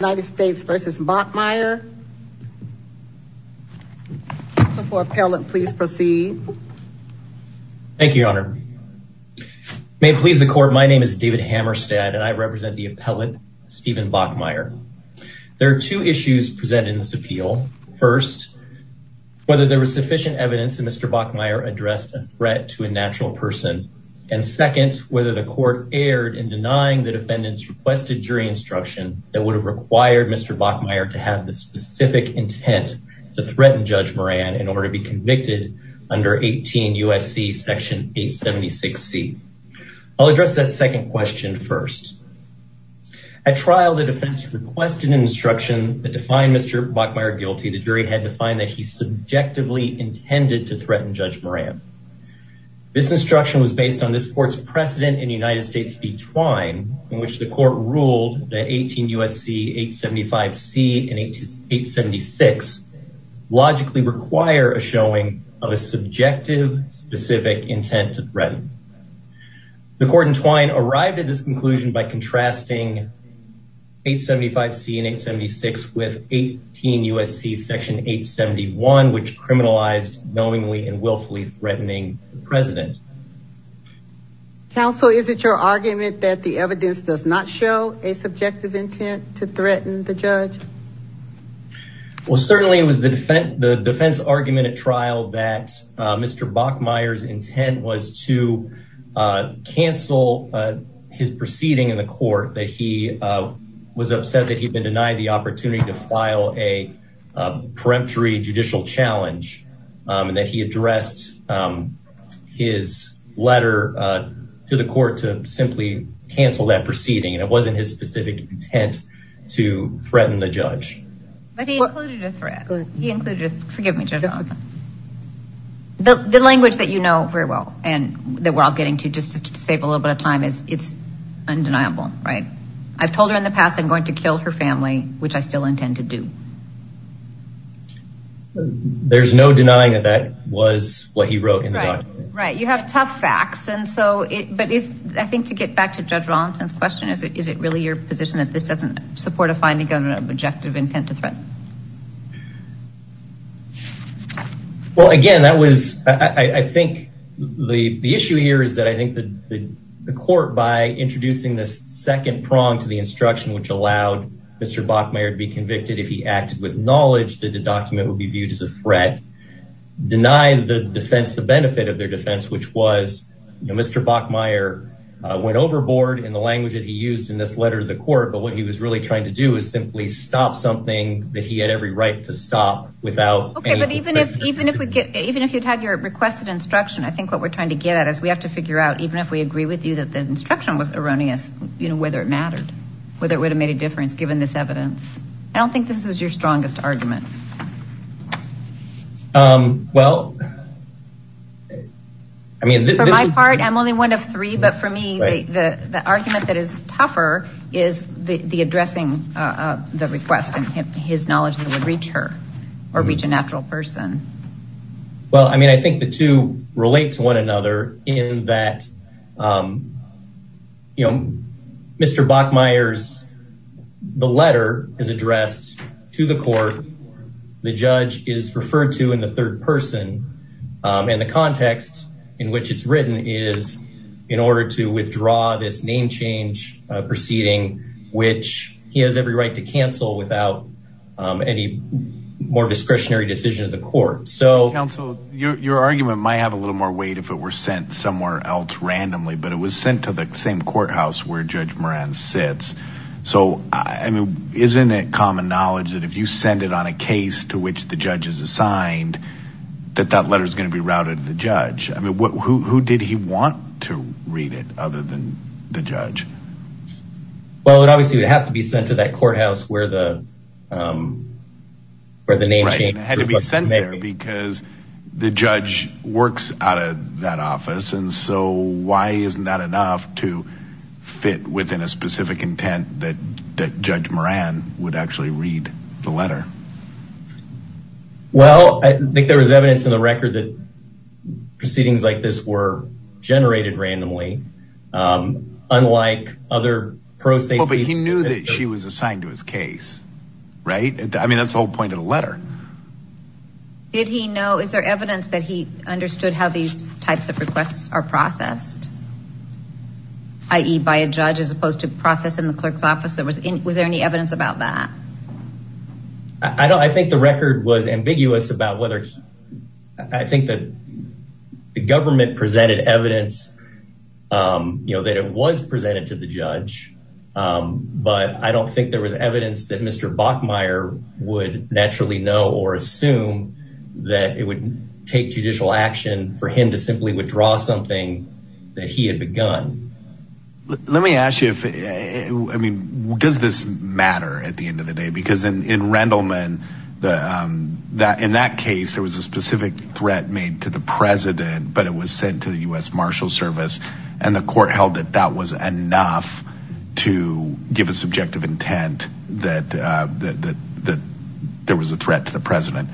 United States v. Bachmeier, so for appellate please proceed. Thank you, your honor. May it please the court, my name is David Hammerstad and I represent the appellate Steven Bachmeier. There are two issues presented in this appeal. First, whether there was sufficient evidence that Mr. Bachmeier addressed a threat to a natural person and second, whether the court erred in denying the defendant's requested jury instruction that would have required Mr. Bachmeier to have the specific intent to threaten Judge Moran in order to be convicted under 18 U.S.C. section 876C. I'll address that second question first. At trial, the defense requested an instruction that defined Mr. Bachmeier guilty. The jury had to find that he subjectively intended to threaten Judge Moran. This instruction was based on this court's precedent in the United States v. Twine in which the court ruled that 18 U.S.C. 875C and 876 logically require a showing of a subjective specific intent to threaten. The court in Twine arrived at this conclusion by contrasting 875C and 876 with 18 U.S.C. section 871 which criminalized knowingly and argument that the evidence does not show a subjective intent to threaten the judge? Well, certainly it was the defense argument at trial that Mr. Bachmeier's intent was to cancel his proceeding in the court that he was upset that he'd been denied the opportunity to file a peremptory judicial challenge and that he addressed his letter to the court to simply cancel that proceeding and it wasn't his specific intent to threaten the judge. But he included a threat. He included a threat. The language that you know very well and that we're all getting to just to save a little bit of time is it's undeniable, right? I've to do. There's no denying that that was what he wrote in the document. Right. You have tough facts and so it but is I think to get back to Judge Rawlinson's question is it really your position that this doesn't support a finding of an objective intent to threaten? Well, again, that was I think the issue here is that I think that the court by introducing this to the instruction which allowed Mr. Bachmeier to be convicted if he acted with knowledge that the document would be viewed as a threat denied the defense the benefit of their defense which was Mr. Bachmeier went overboard in the language that he used in this letter to the court, but what he was really trying to do is simply stop something that he had every right to stop without. Okay, but even if even if we get even if you'd had your requested instruction, I think what we're trying to get at is we have to figure out even if we agree with you that the instruction was erroneous you know whether it mattered whether it would have made a difference given this evidence. I don't think this is your strongest argument. Well, I mean for my part, I'm only one of three, but for me the argument that is tougher is the addressing the request and his knowledge that would reach her or reach a natural person. Well, I mean I think the two relate to one another in that you know Mr. Bachmeier's the letter is addressed to the court the judge is referred to in the third person and the context in which it's written is in order to withdraw this name change proceeding which he has every right to cancel without any more discretionary of the court. So, counsel your argument might have a little more weight if it were sent somewhere else randomly, but it was sent to the same courthouse where Judge Moran sits. So, I mean isn't it common knowledge that if you send it on a case to which the judge is assigned that that letter is going to be routed to the judge? I mean who did he want to read it other than the judge? Well, it obviously would have to be sent to that courthouse where the name change had to be sent there because the judge works out of that office and so why isn't that enough to fit within a specific intent that that Judge Moran would actually read the letter? Well, I think there was evidence in the record that proceedings like this were generated randomly unlike other proceedings. But he knew that she was assigned to his case, right? I mean that's the whole point of the letter. Did he know, is there evidence that he understood how these types of requests are processed, i.e. by a judge as opposed to processing the clerk's office? Was there any evidence about that? I think the record was ambiguous about whether I think that the government presented evidence, you know, that it was presented to the judge. But I don't think there was evidence that Mr. Bachmeier would naturally know or assume that it would take judicial action for him to simply withdraw something that he had begun. Let me ask you if, I mean, does this matter at the end of the day? Because in Rendleman, the, in that case, there was a specific threat made to the president but it was sent to the U.S. Marshal Service and the court held that that was enough to give a subjective intent that there was a threat to the president.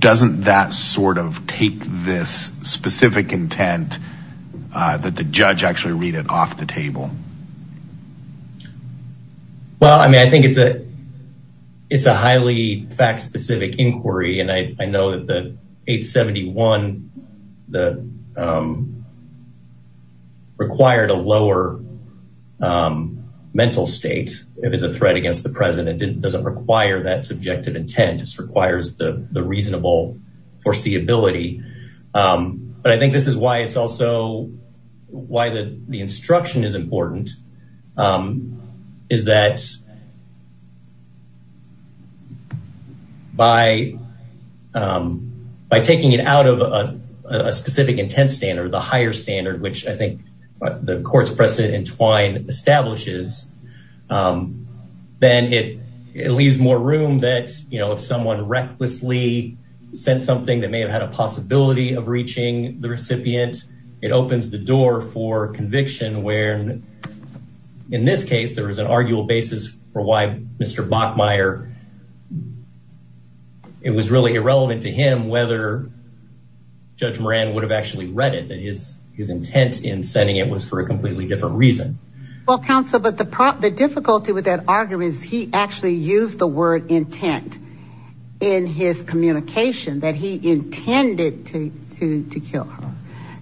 Doesn't that sort of take this specific intent that the judge actually read it off the table? Well, I mean, I think it's a, it's a highly fact-specific inquiry. And I, I know that the 871, the, required a lower mental state if it's a threat against the president. It doesn't require that subjective intent. It requires the reasonable foreseeability. But I think this is why it's also why the instruction is important, is that by, by taking it out of a specific intent standard, the higher standard, which I think the court's precedent entwined establishes, then it, it leaves more room that, you know, if someone recklessly sent something that may have had a possibility of reaching the recipient, it opens the door for conviction where, in this case, there was an arguable basis for why Mr. Bachmeier, it was really irrelevant to him whether Judge Moran would have actually read it, that his, his intent in sending it was for a completely different reason. Well, counsel, but the problem, the difficulty with that argument is he actually used the word intent in his communication, that he intended to, to, to kill her.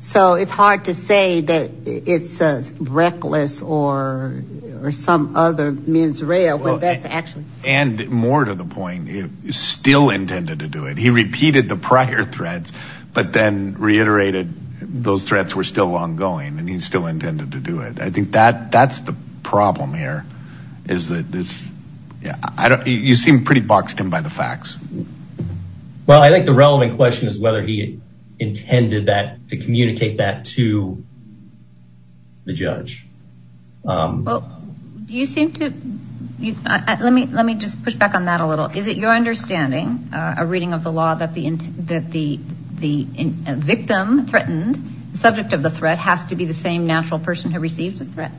So it's hard to say that it's reckless or, or some other mens rea, when that's actually. And more to the point, he still intended to do it. He repeated the prior threats, but then reiterated those threats were still ongoing, and he still intended to do it. I think that's the problem here is that this, yeah, I don't, you seem pretty boxed in by the facts. Well, I think the relevant question is whether he intended that to communicate that to the judge. Well, do you seem to, let me, let me just push back on that a little. Is it your understanding, a reading of the law that the, that the, the victim threatened, the subject of the threat has to be the same natural person who receives a threat?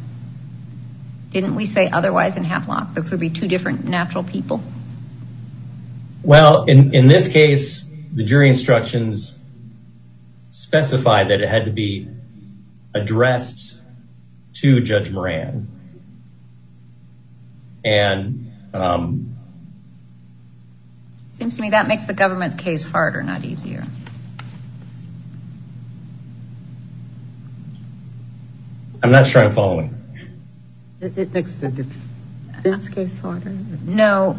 Didn't we say otherwise in Havelock, there could be two different natural people? Well, in, in this case, the jury instructions specified that it had to be addressed to Judge Moran. And seems to me that makes the government's case harder, not easier. I'm not sure I'm following. It makes the defense case harder? No,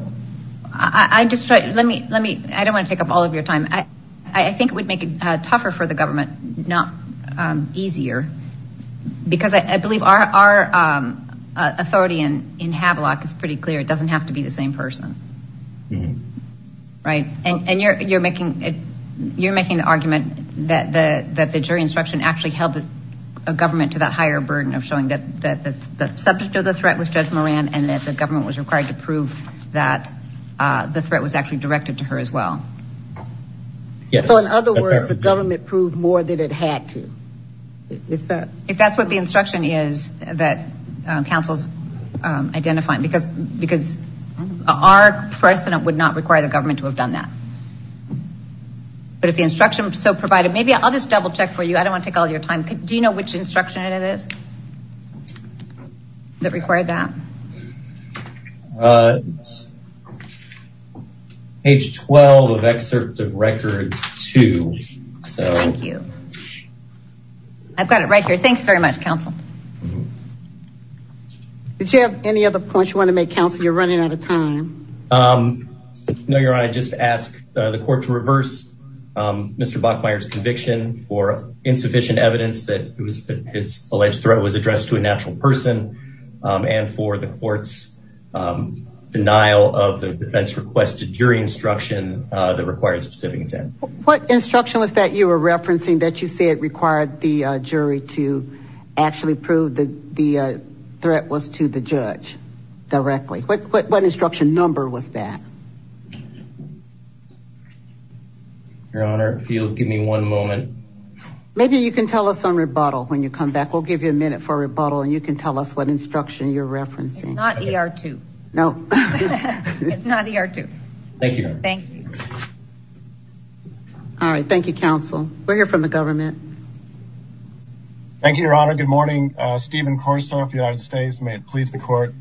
I just try, let me, let me, I don't want to take up all of your time. I, I think it would make it tougher for the government, not easier. Because I believe our, our authority in, in Havelock is pretty clear. It doesn't have to be the same person. Right. And you're, you're making it, you're making the argument that the, that the jury instruction actually held the government to that higher burden of showing that, that the subject of the threat was Judge Moran and that the government was required to prove that the threat was actually directed to her as well. So in other words, the government proved more than it had to. If that's what the instruction is that counsel's identifying, because, because our precedent would not require the government to have done that. But if the instruction so provided, maybe I'll just double check for you. I don't want to take all your time. Do you know which instruction it is? That required that? Page 12 of excerpt of records two. So thank you. I've got it right here. Thanks very much, counsel. Did you have any other points you want to make counsel? You're running out of time. No, Your Honor, I just ask the court to reverse Mr. Bachmeier's conviction for insufficient evidence that his alleged threat was addressed to a natural person and for the court's denial of the defense requested jury instruction that requires a specific intent. What instruction was that you were referencing that you said required the jury to actually prove the threat was to the judge directly? What instruction number was that? Your Honor, if you'll give me one moment. Maybe you can tell us on rebuttal when you come back. We'll give you a minute for rebuttal and you can tell us what instruction you're referencing. Not ER2. No. It's not ER2. Thank you. Thank you. All right. Thank you, counsel. We're here from the government. Thank you, Your Honor. Good morning. Stephen Korsoff, United States. May it please the court.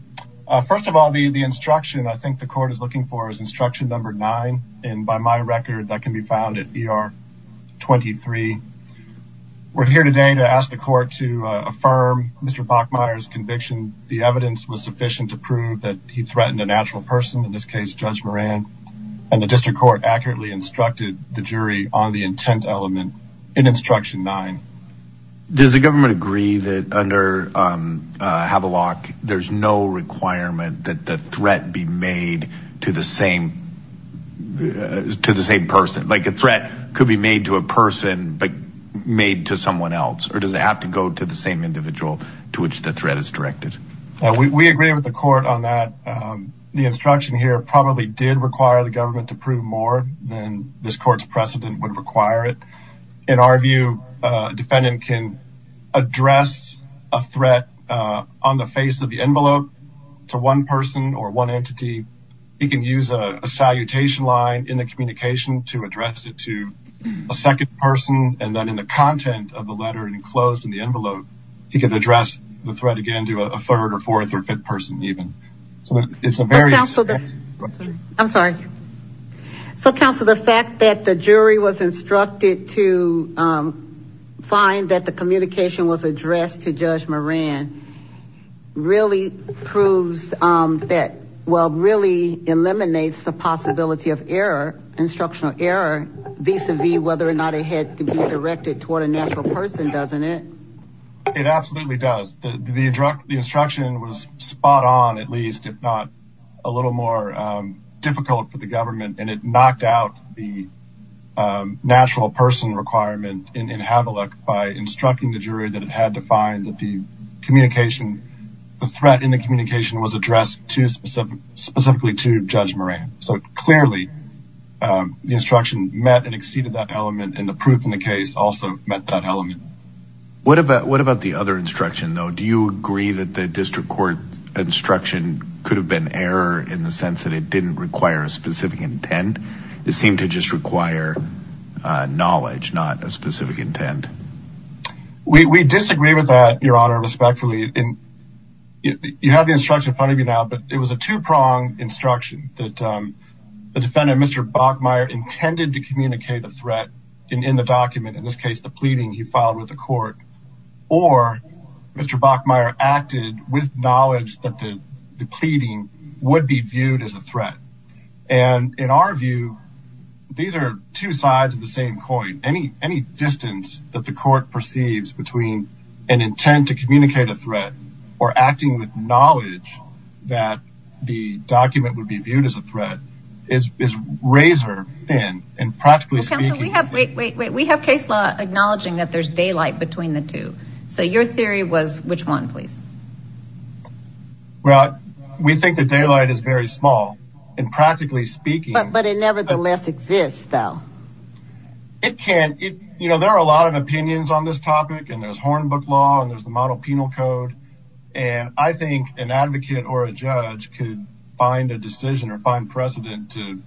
First of all, the instruction I think the court is looking for is instruction number nine. And by my record, that can be found at ER23. We're here today to ask the court to affirm Mr. Bachmeier's conviction. The evidence was sufficient to prove that he threatened a natural person, in this case, Judge Moran, and the district court accurately instructed the jury on the intent element in instruction nine. Does the government agree that under Havelock, there's no requirement that the threat be made to the same person? Like a threat could be made to a person, but made to someone else? Or does it have to go to the same individual to which the threat is directed? We agree with the court on that. The instruction here probably did require the government to prove than this court's precedent would require it. In our view, a defendant can address a threat on the face of the envelope to one person or one entity. He can use a salutation line in the communication to address it to a second person. And then in the content of the letter enclosed in the envelope, he can address the threat again to a third or fourth or fifth even. So it's a very... I'm sorry. So counsel, the fact that the jury was instructed to find that the communication was addressed to Judge Moran, really proves that, well, really eliminates the possibility of error, instructional error, vis-a-vis whether or not it had to be directed toward a natural person, doesn't it? It absolutely does. The instruction was spot on, at least, if not a little more difficult for the government. And it knocked out the natural person requirement in Havilah by instructing the jury that it had to find that the threat in the communication was addressed specifically to Judge Moran. So clearly, the instruction met and exceeded that element. And the proof in the case also met that element. What about the other instruction, though? Do you agree that the district court instruction could have been error in the sense that it didn't require a specific intent? It seemed to just require knowledge, not a specific intent. We disagree with that, Your Honor, respectfully. You have the instruction in front of you now, but it was a two-pronged instruction that the defendant, Mr. Bachmeier, intended to communicate a threat in the document, in this case, the pleading he filed with the court, or Mr. Bachmeier acted with knowledge that the pleading would be viewed as a threat. And in our view, these are two sides of the same coin. Any distance that the court perceives between an intent to communicate a threat or acting with knowledge that the document would be viewed as a threat is razor thin. Wait, wait, wait. We have case law acknowledging that there's daylight between the two. So your theory was which one, please? Well, we think the daylight is very small, and practically speaking... But it nevertheless exists, though. It can. You know, there are a lot of opinions on this topic, and there's Hornbook law, and there's the model penal code. And I think an advocate or a judge could find a decision or find precedent to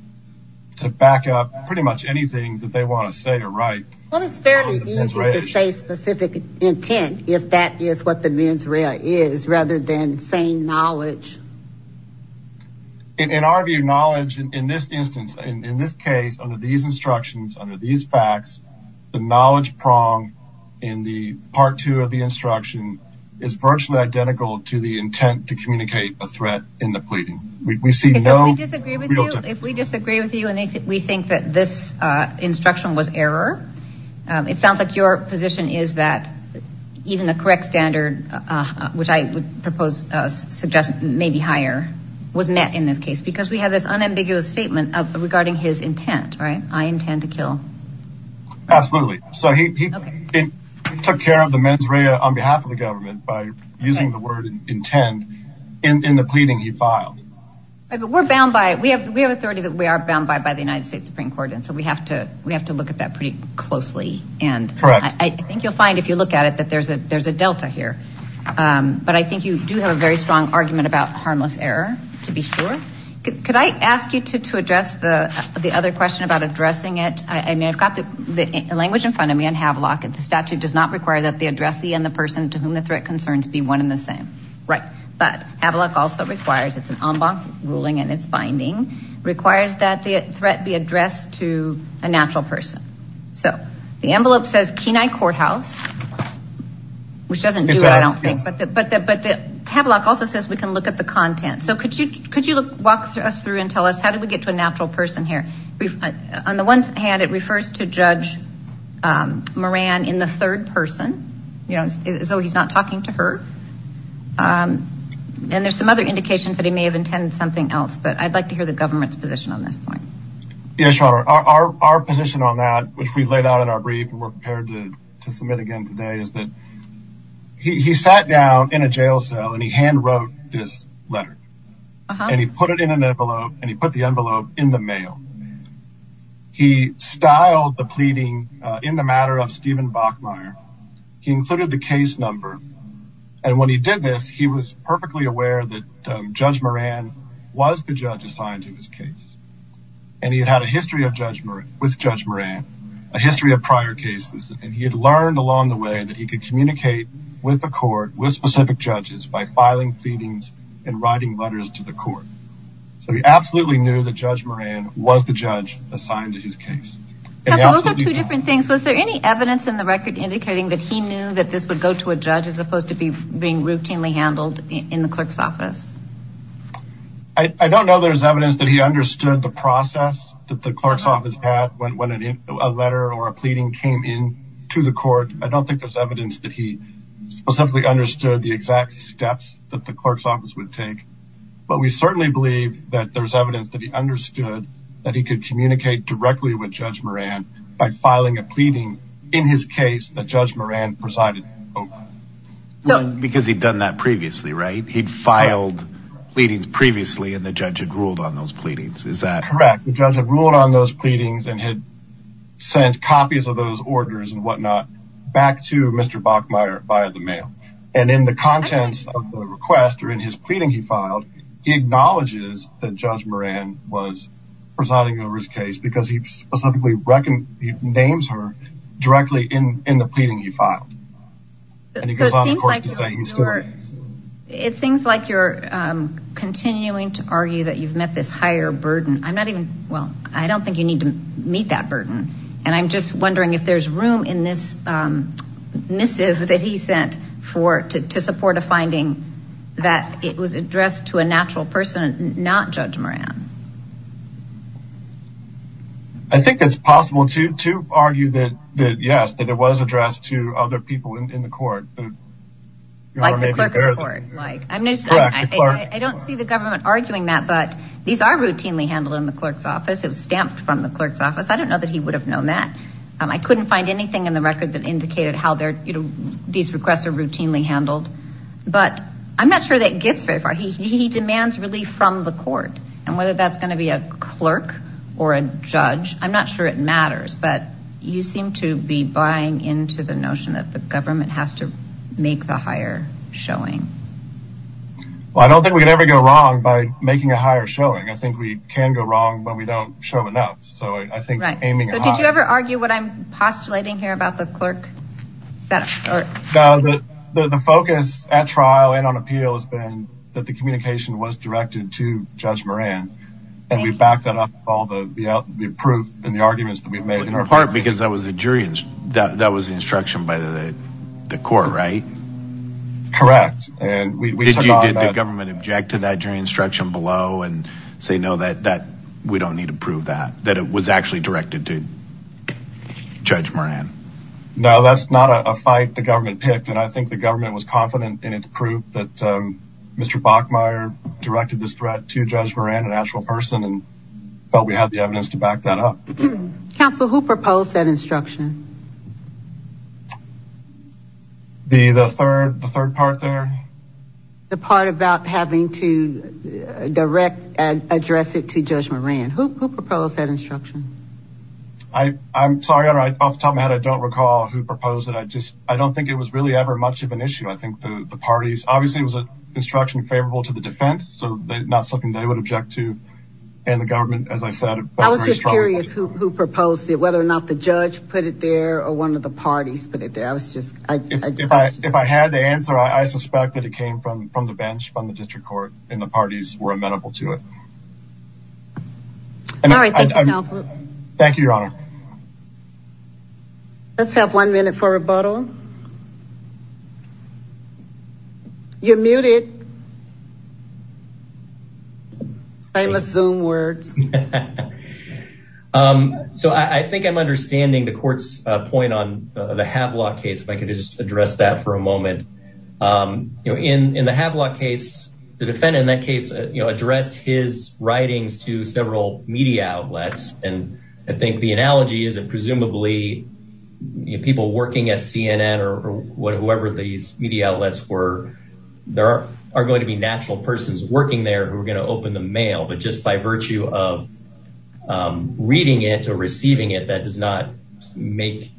back up pretty much anything that they want to say or write. Well, it's fairly easy to say specific intent, if that is what the mens rea is, rather than saying knowledge. In our view, knowledge in this instance, in this case, under these instructions, under these facts, the knowledge prong in the part two of the instruction is virtually identical to the intent to communicate a threat in the pleading. If we disagree with you and we think that this instruction was error, it sounds like your position is that even the correct standard, which I would propose, suggest maybe higher, was met in this case, because we have this unambiguous statement regarding his intent, right? I intend to kill. Absolutely. So he intended in the pleading he filed. But we're bound by it. We have we have authority that we are bound by by the United States Supreme Court. And so we have to we have to look at that pretty closely. And I think you'll find if you look at it, that there's a there's a delta here. But I think you do have a very strong argument about harmless error, to be sure. Could I ask you to address the other question about addressing it? I mean, I've got the language in front of me and have lock. The statute does not require that the addressee and the person to whom the threat concerns be one in the same. Right. But Avalok also requires it's an en banc ruling and it's binding, requires that the threat be addressed to a natural person. So the envelope says Kenai Courthouse, which doesn't do it, I don't think. But the but the but the Avalok also says we can look at the content. So could you could you walk us through and tell us how do we get to a natural person here? On the one hand, it refers to Judge Moran in the third person. You know, so he's not talking to her. And there's some other indications that he may have intended something else. But I'd like to hear the government's position on this point. Yes, your honor, our position on that, which we've laid out in our brief and we're prepared to submit again today is that he sat down in a jail cell and he hand wrote this letter and he put it in an envelope and he put the envelope in the mail. He styled the pleading in the matter of Stephen Bachmeier. He included the case number. And when he did this, he was perfectly aware that Judge Moran was the judge assigned to his case. And he had a history of judgment with Judge Moran, a history of prior cases. And he had learned along the way that he could communicate with the court, with specific judges by filing pleadings and writing letters to the court. So he absolutely knew that Judge Moran was the judge assigned to his case. Those are two different things. Was there any evidence in the record indicating that he knew that this would go to a judge as opposed to being routinely handled in the clerk's office? I don't know there's evidence that he understood the process that the clerk's office had when a letter or a pleading came in to the court. I don't think there's evidence that he specifically understood the exact steps that the clerk's office would take. But we certainly believe that there's evidence that he understood that he could communicate directly with Judge Moran by filing a pleading in his case that Judge Moran presided over. Because he'd done that previously, right? He'd filed pleadings previously and the judge had ruled on those pleadings. Is that correct? The judge had ruled on those pleadings and had sent copies of those orders and whatnot back to Mr. Bachmeier via the mail. And in the contents of the request or in his pleading he filed, he acknowledges that Judge Moran was presiding over his case because he specifically names her directly in the pleading he filed. It seems like you're continuing to argue that you've met this higher burden. I'm not even, well, I don't think you need to meet that burden. And I'm just wondering if there's room in this missive that he sent for to support a finding that it was addressed to a natural person, not Judge Moran. I think it's possible to argue that yes, that it was addressed to other people in the court. Like the clerk of the court. I don't see the government arguing that, but these are routinely handled in the clerk's office. It was stamped from the clerk's office. I don't know that he would have known that. I couldn't find anything in the record that indicated how these requests are routinely handled. But I'm not sure that gets very far. He demands relief from the court. And whether that's going to be a clerk or a judge, I'm not sure it matters. But you seem to be buying into the notion that the government has to make the higher showing. Well, I don't think we could ever go wrong by making a higher showing. I think we can go wrong, but we don't show enough. So I think, right. So did you ever argue what I'm postulating here about the clerk? The focus at trial and on appeal has been that the communication was directed to Judge Moran and we backed that up with all the proof and the arguments that we've made. In part because that was the jury, that was the instruction by the court, right? Correct. Did the government object to that jury instruction below and say, no, we don't need to prove that, that it was actually directed to Judge Moran? No, that's not a fight the government picked. And I think the government was confident in the proof that Mr. Bachmeier directed this threat to Judge Moran, an actual person, and felt we had the evidence to back that up. Counsel, who proposed that instruction? The third part there? The part about having to direct and address it to Judge Moran. Who proposed that instruction? I'm sorry, I'm off the top of my head. I don't recall who proposed it. I just, the parties. Obviously, it was an instruction favorable to the defense, so not something they would object to. And the government, as I said... I was just curious who proposed it, whether or not the judge put it there or one of the parties put it there. If I had to answer, I suspect that it came from the bench, from the district court, and the parties were amenable to it. All right, thank you, Counsel. Thank you, Your Honor. Let's have one minute for rebuttal. You're muted. I'm a Zoom words. So I think I'm understanding the court's point on the Havelock case, if I could just address that for a moment. In the Havelock case, the defendant in that case addressed his writings to several media outlets, and I think the analogy is that presumably people working at CNN or whoever these media outlets were, there are going to be natural persons working there who are going to open the mail, but just by virtue of reading it or receiving it, that does not make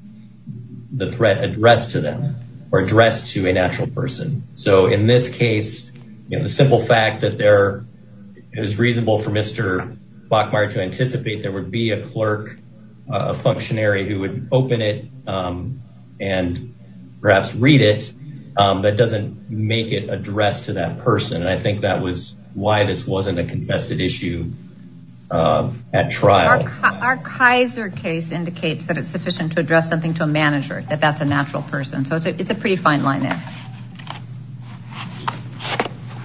the threat addressed to them or addressed to a natural person. So in this case, the simple fact that it was reasonable for Mr. Bachmeier to anticipate there would be a clerk, a functionary who would open it and perhaps read it, that doesn't make it addressed to that person, and I think that was why this wasn't a contested issue at trial. Our Kaiser case indicates that it's sufficient to address something to a manager, that that's a natural person, so it's a pretty fine line there.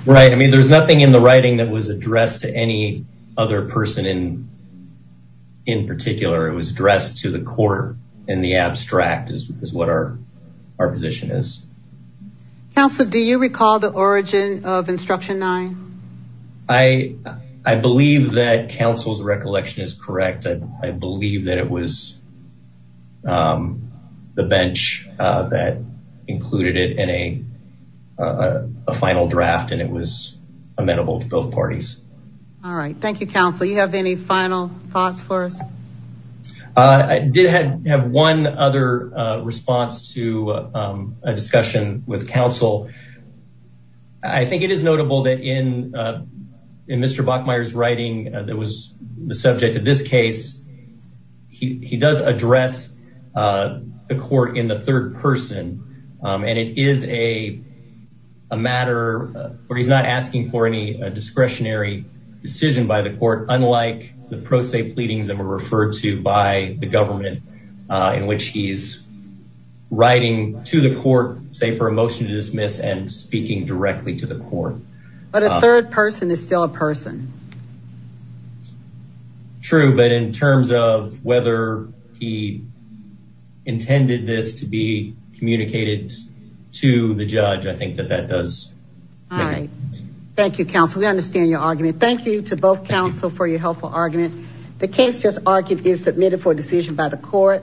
Right, I mean, there's nothing in the writing that was addressed to any other person in particular. It was addressed to the court in the abstract is what our position is. Counselor, do you recall the origin of Instruction 9? I believe that counsel's recollection is correct. I believe that it was the bench that included it in a final draft and it was amenable to both parties. All right, thank you, counsel. You have any final thoughts for us? I did have one other response to a discussion with counsel. I think it is notable that in Mr. Bachmeier's writing that was the subject of this case, he does address the court in the third person, and it is a matter where he's not asking for any discretionary decision by the court, unlike the pro se pleadings that were referred to by the government in which he's writing to the court, say, for a motion to dismiss and speaking directly to the court. But a third person is still a person. True, but in terms of whether he intended this to be communicated to the judge, I think that that does. All right, thank you, counsel. We understand your argument. Thank you to both counsel for your helpful argument. The case just argued is submitted for decision by the court.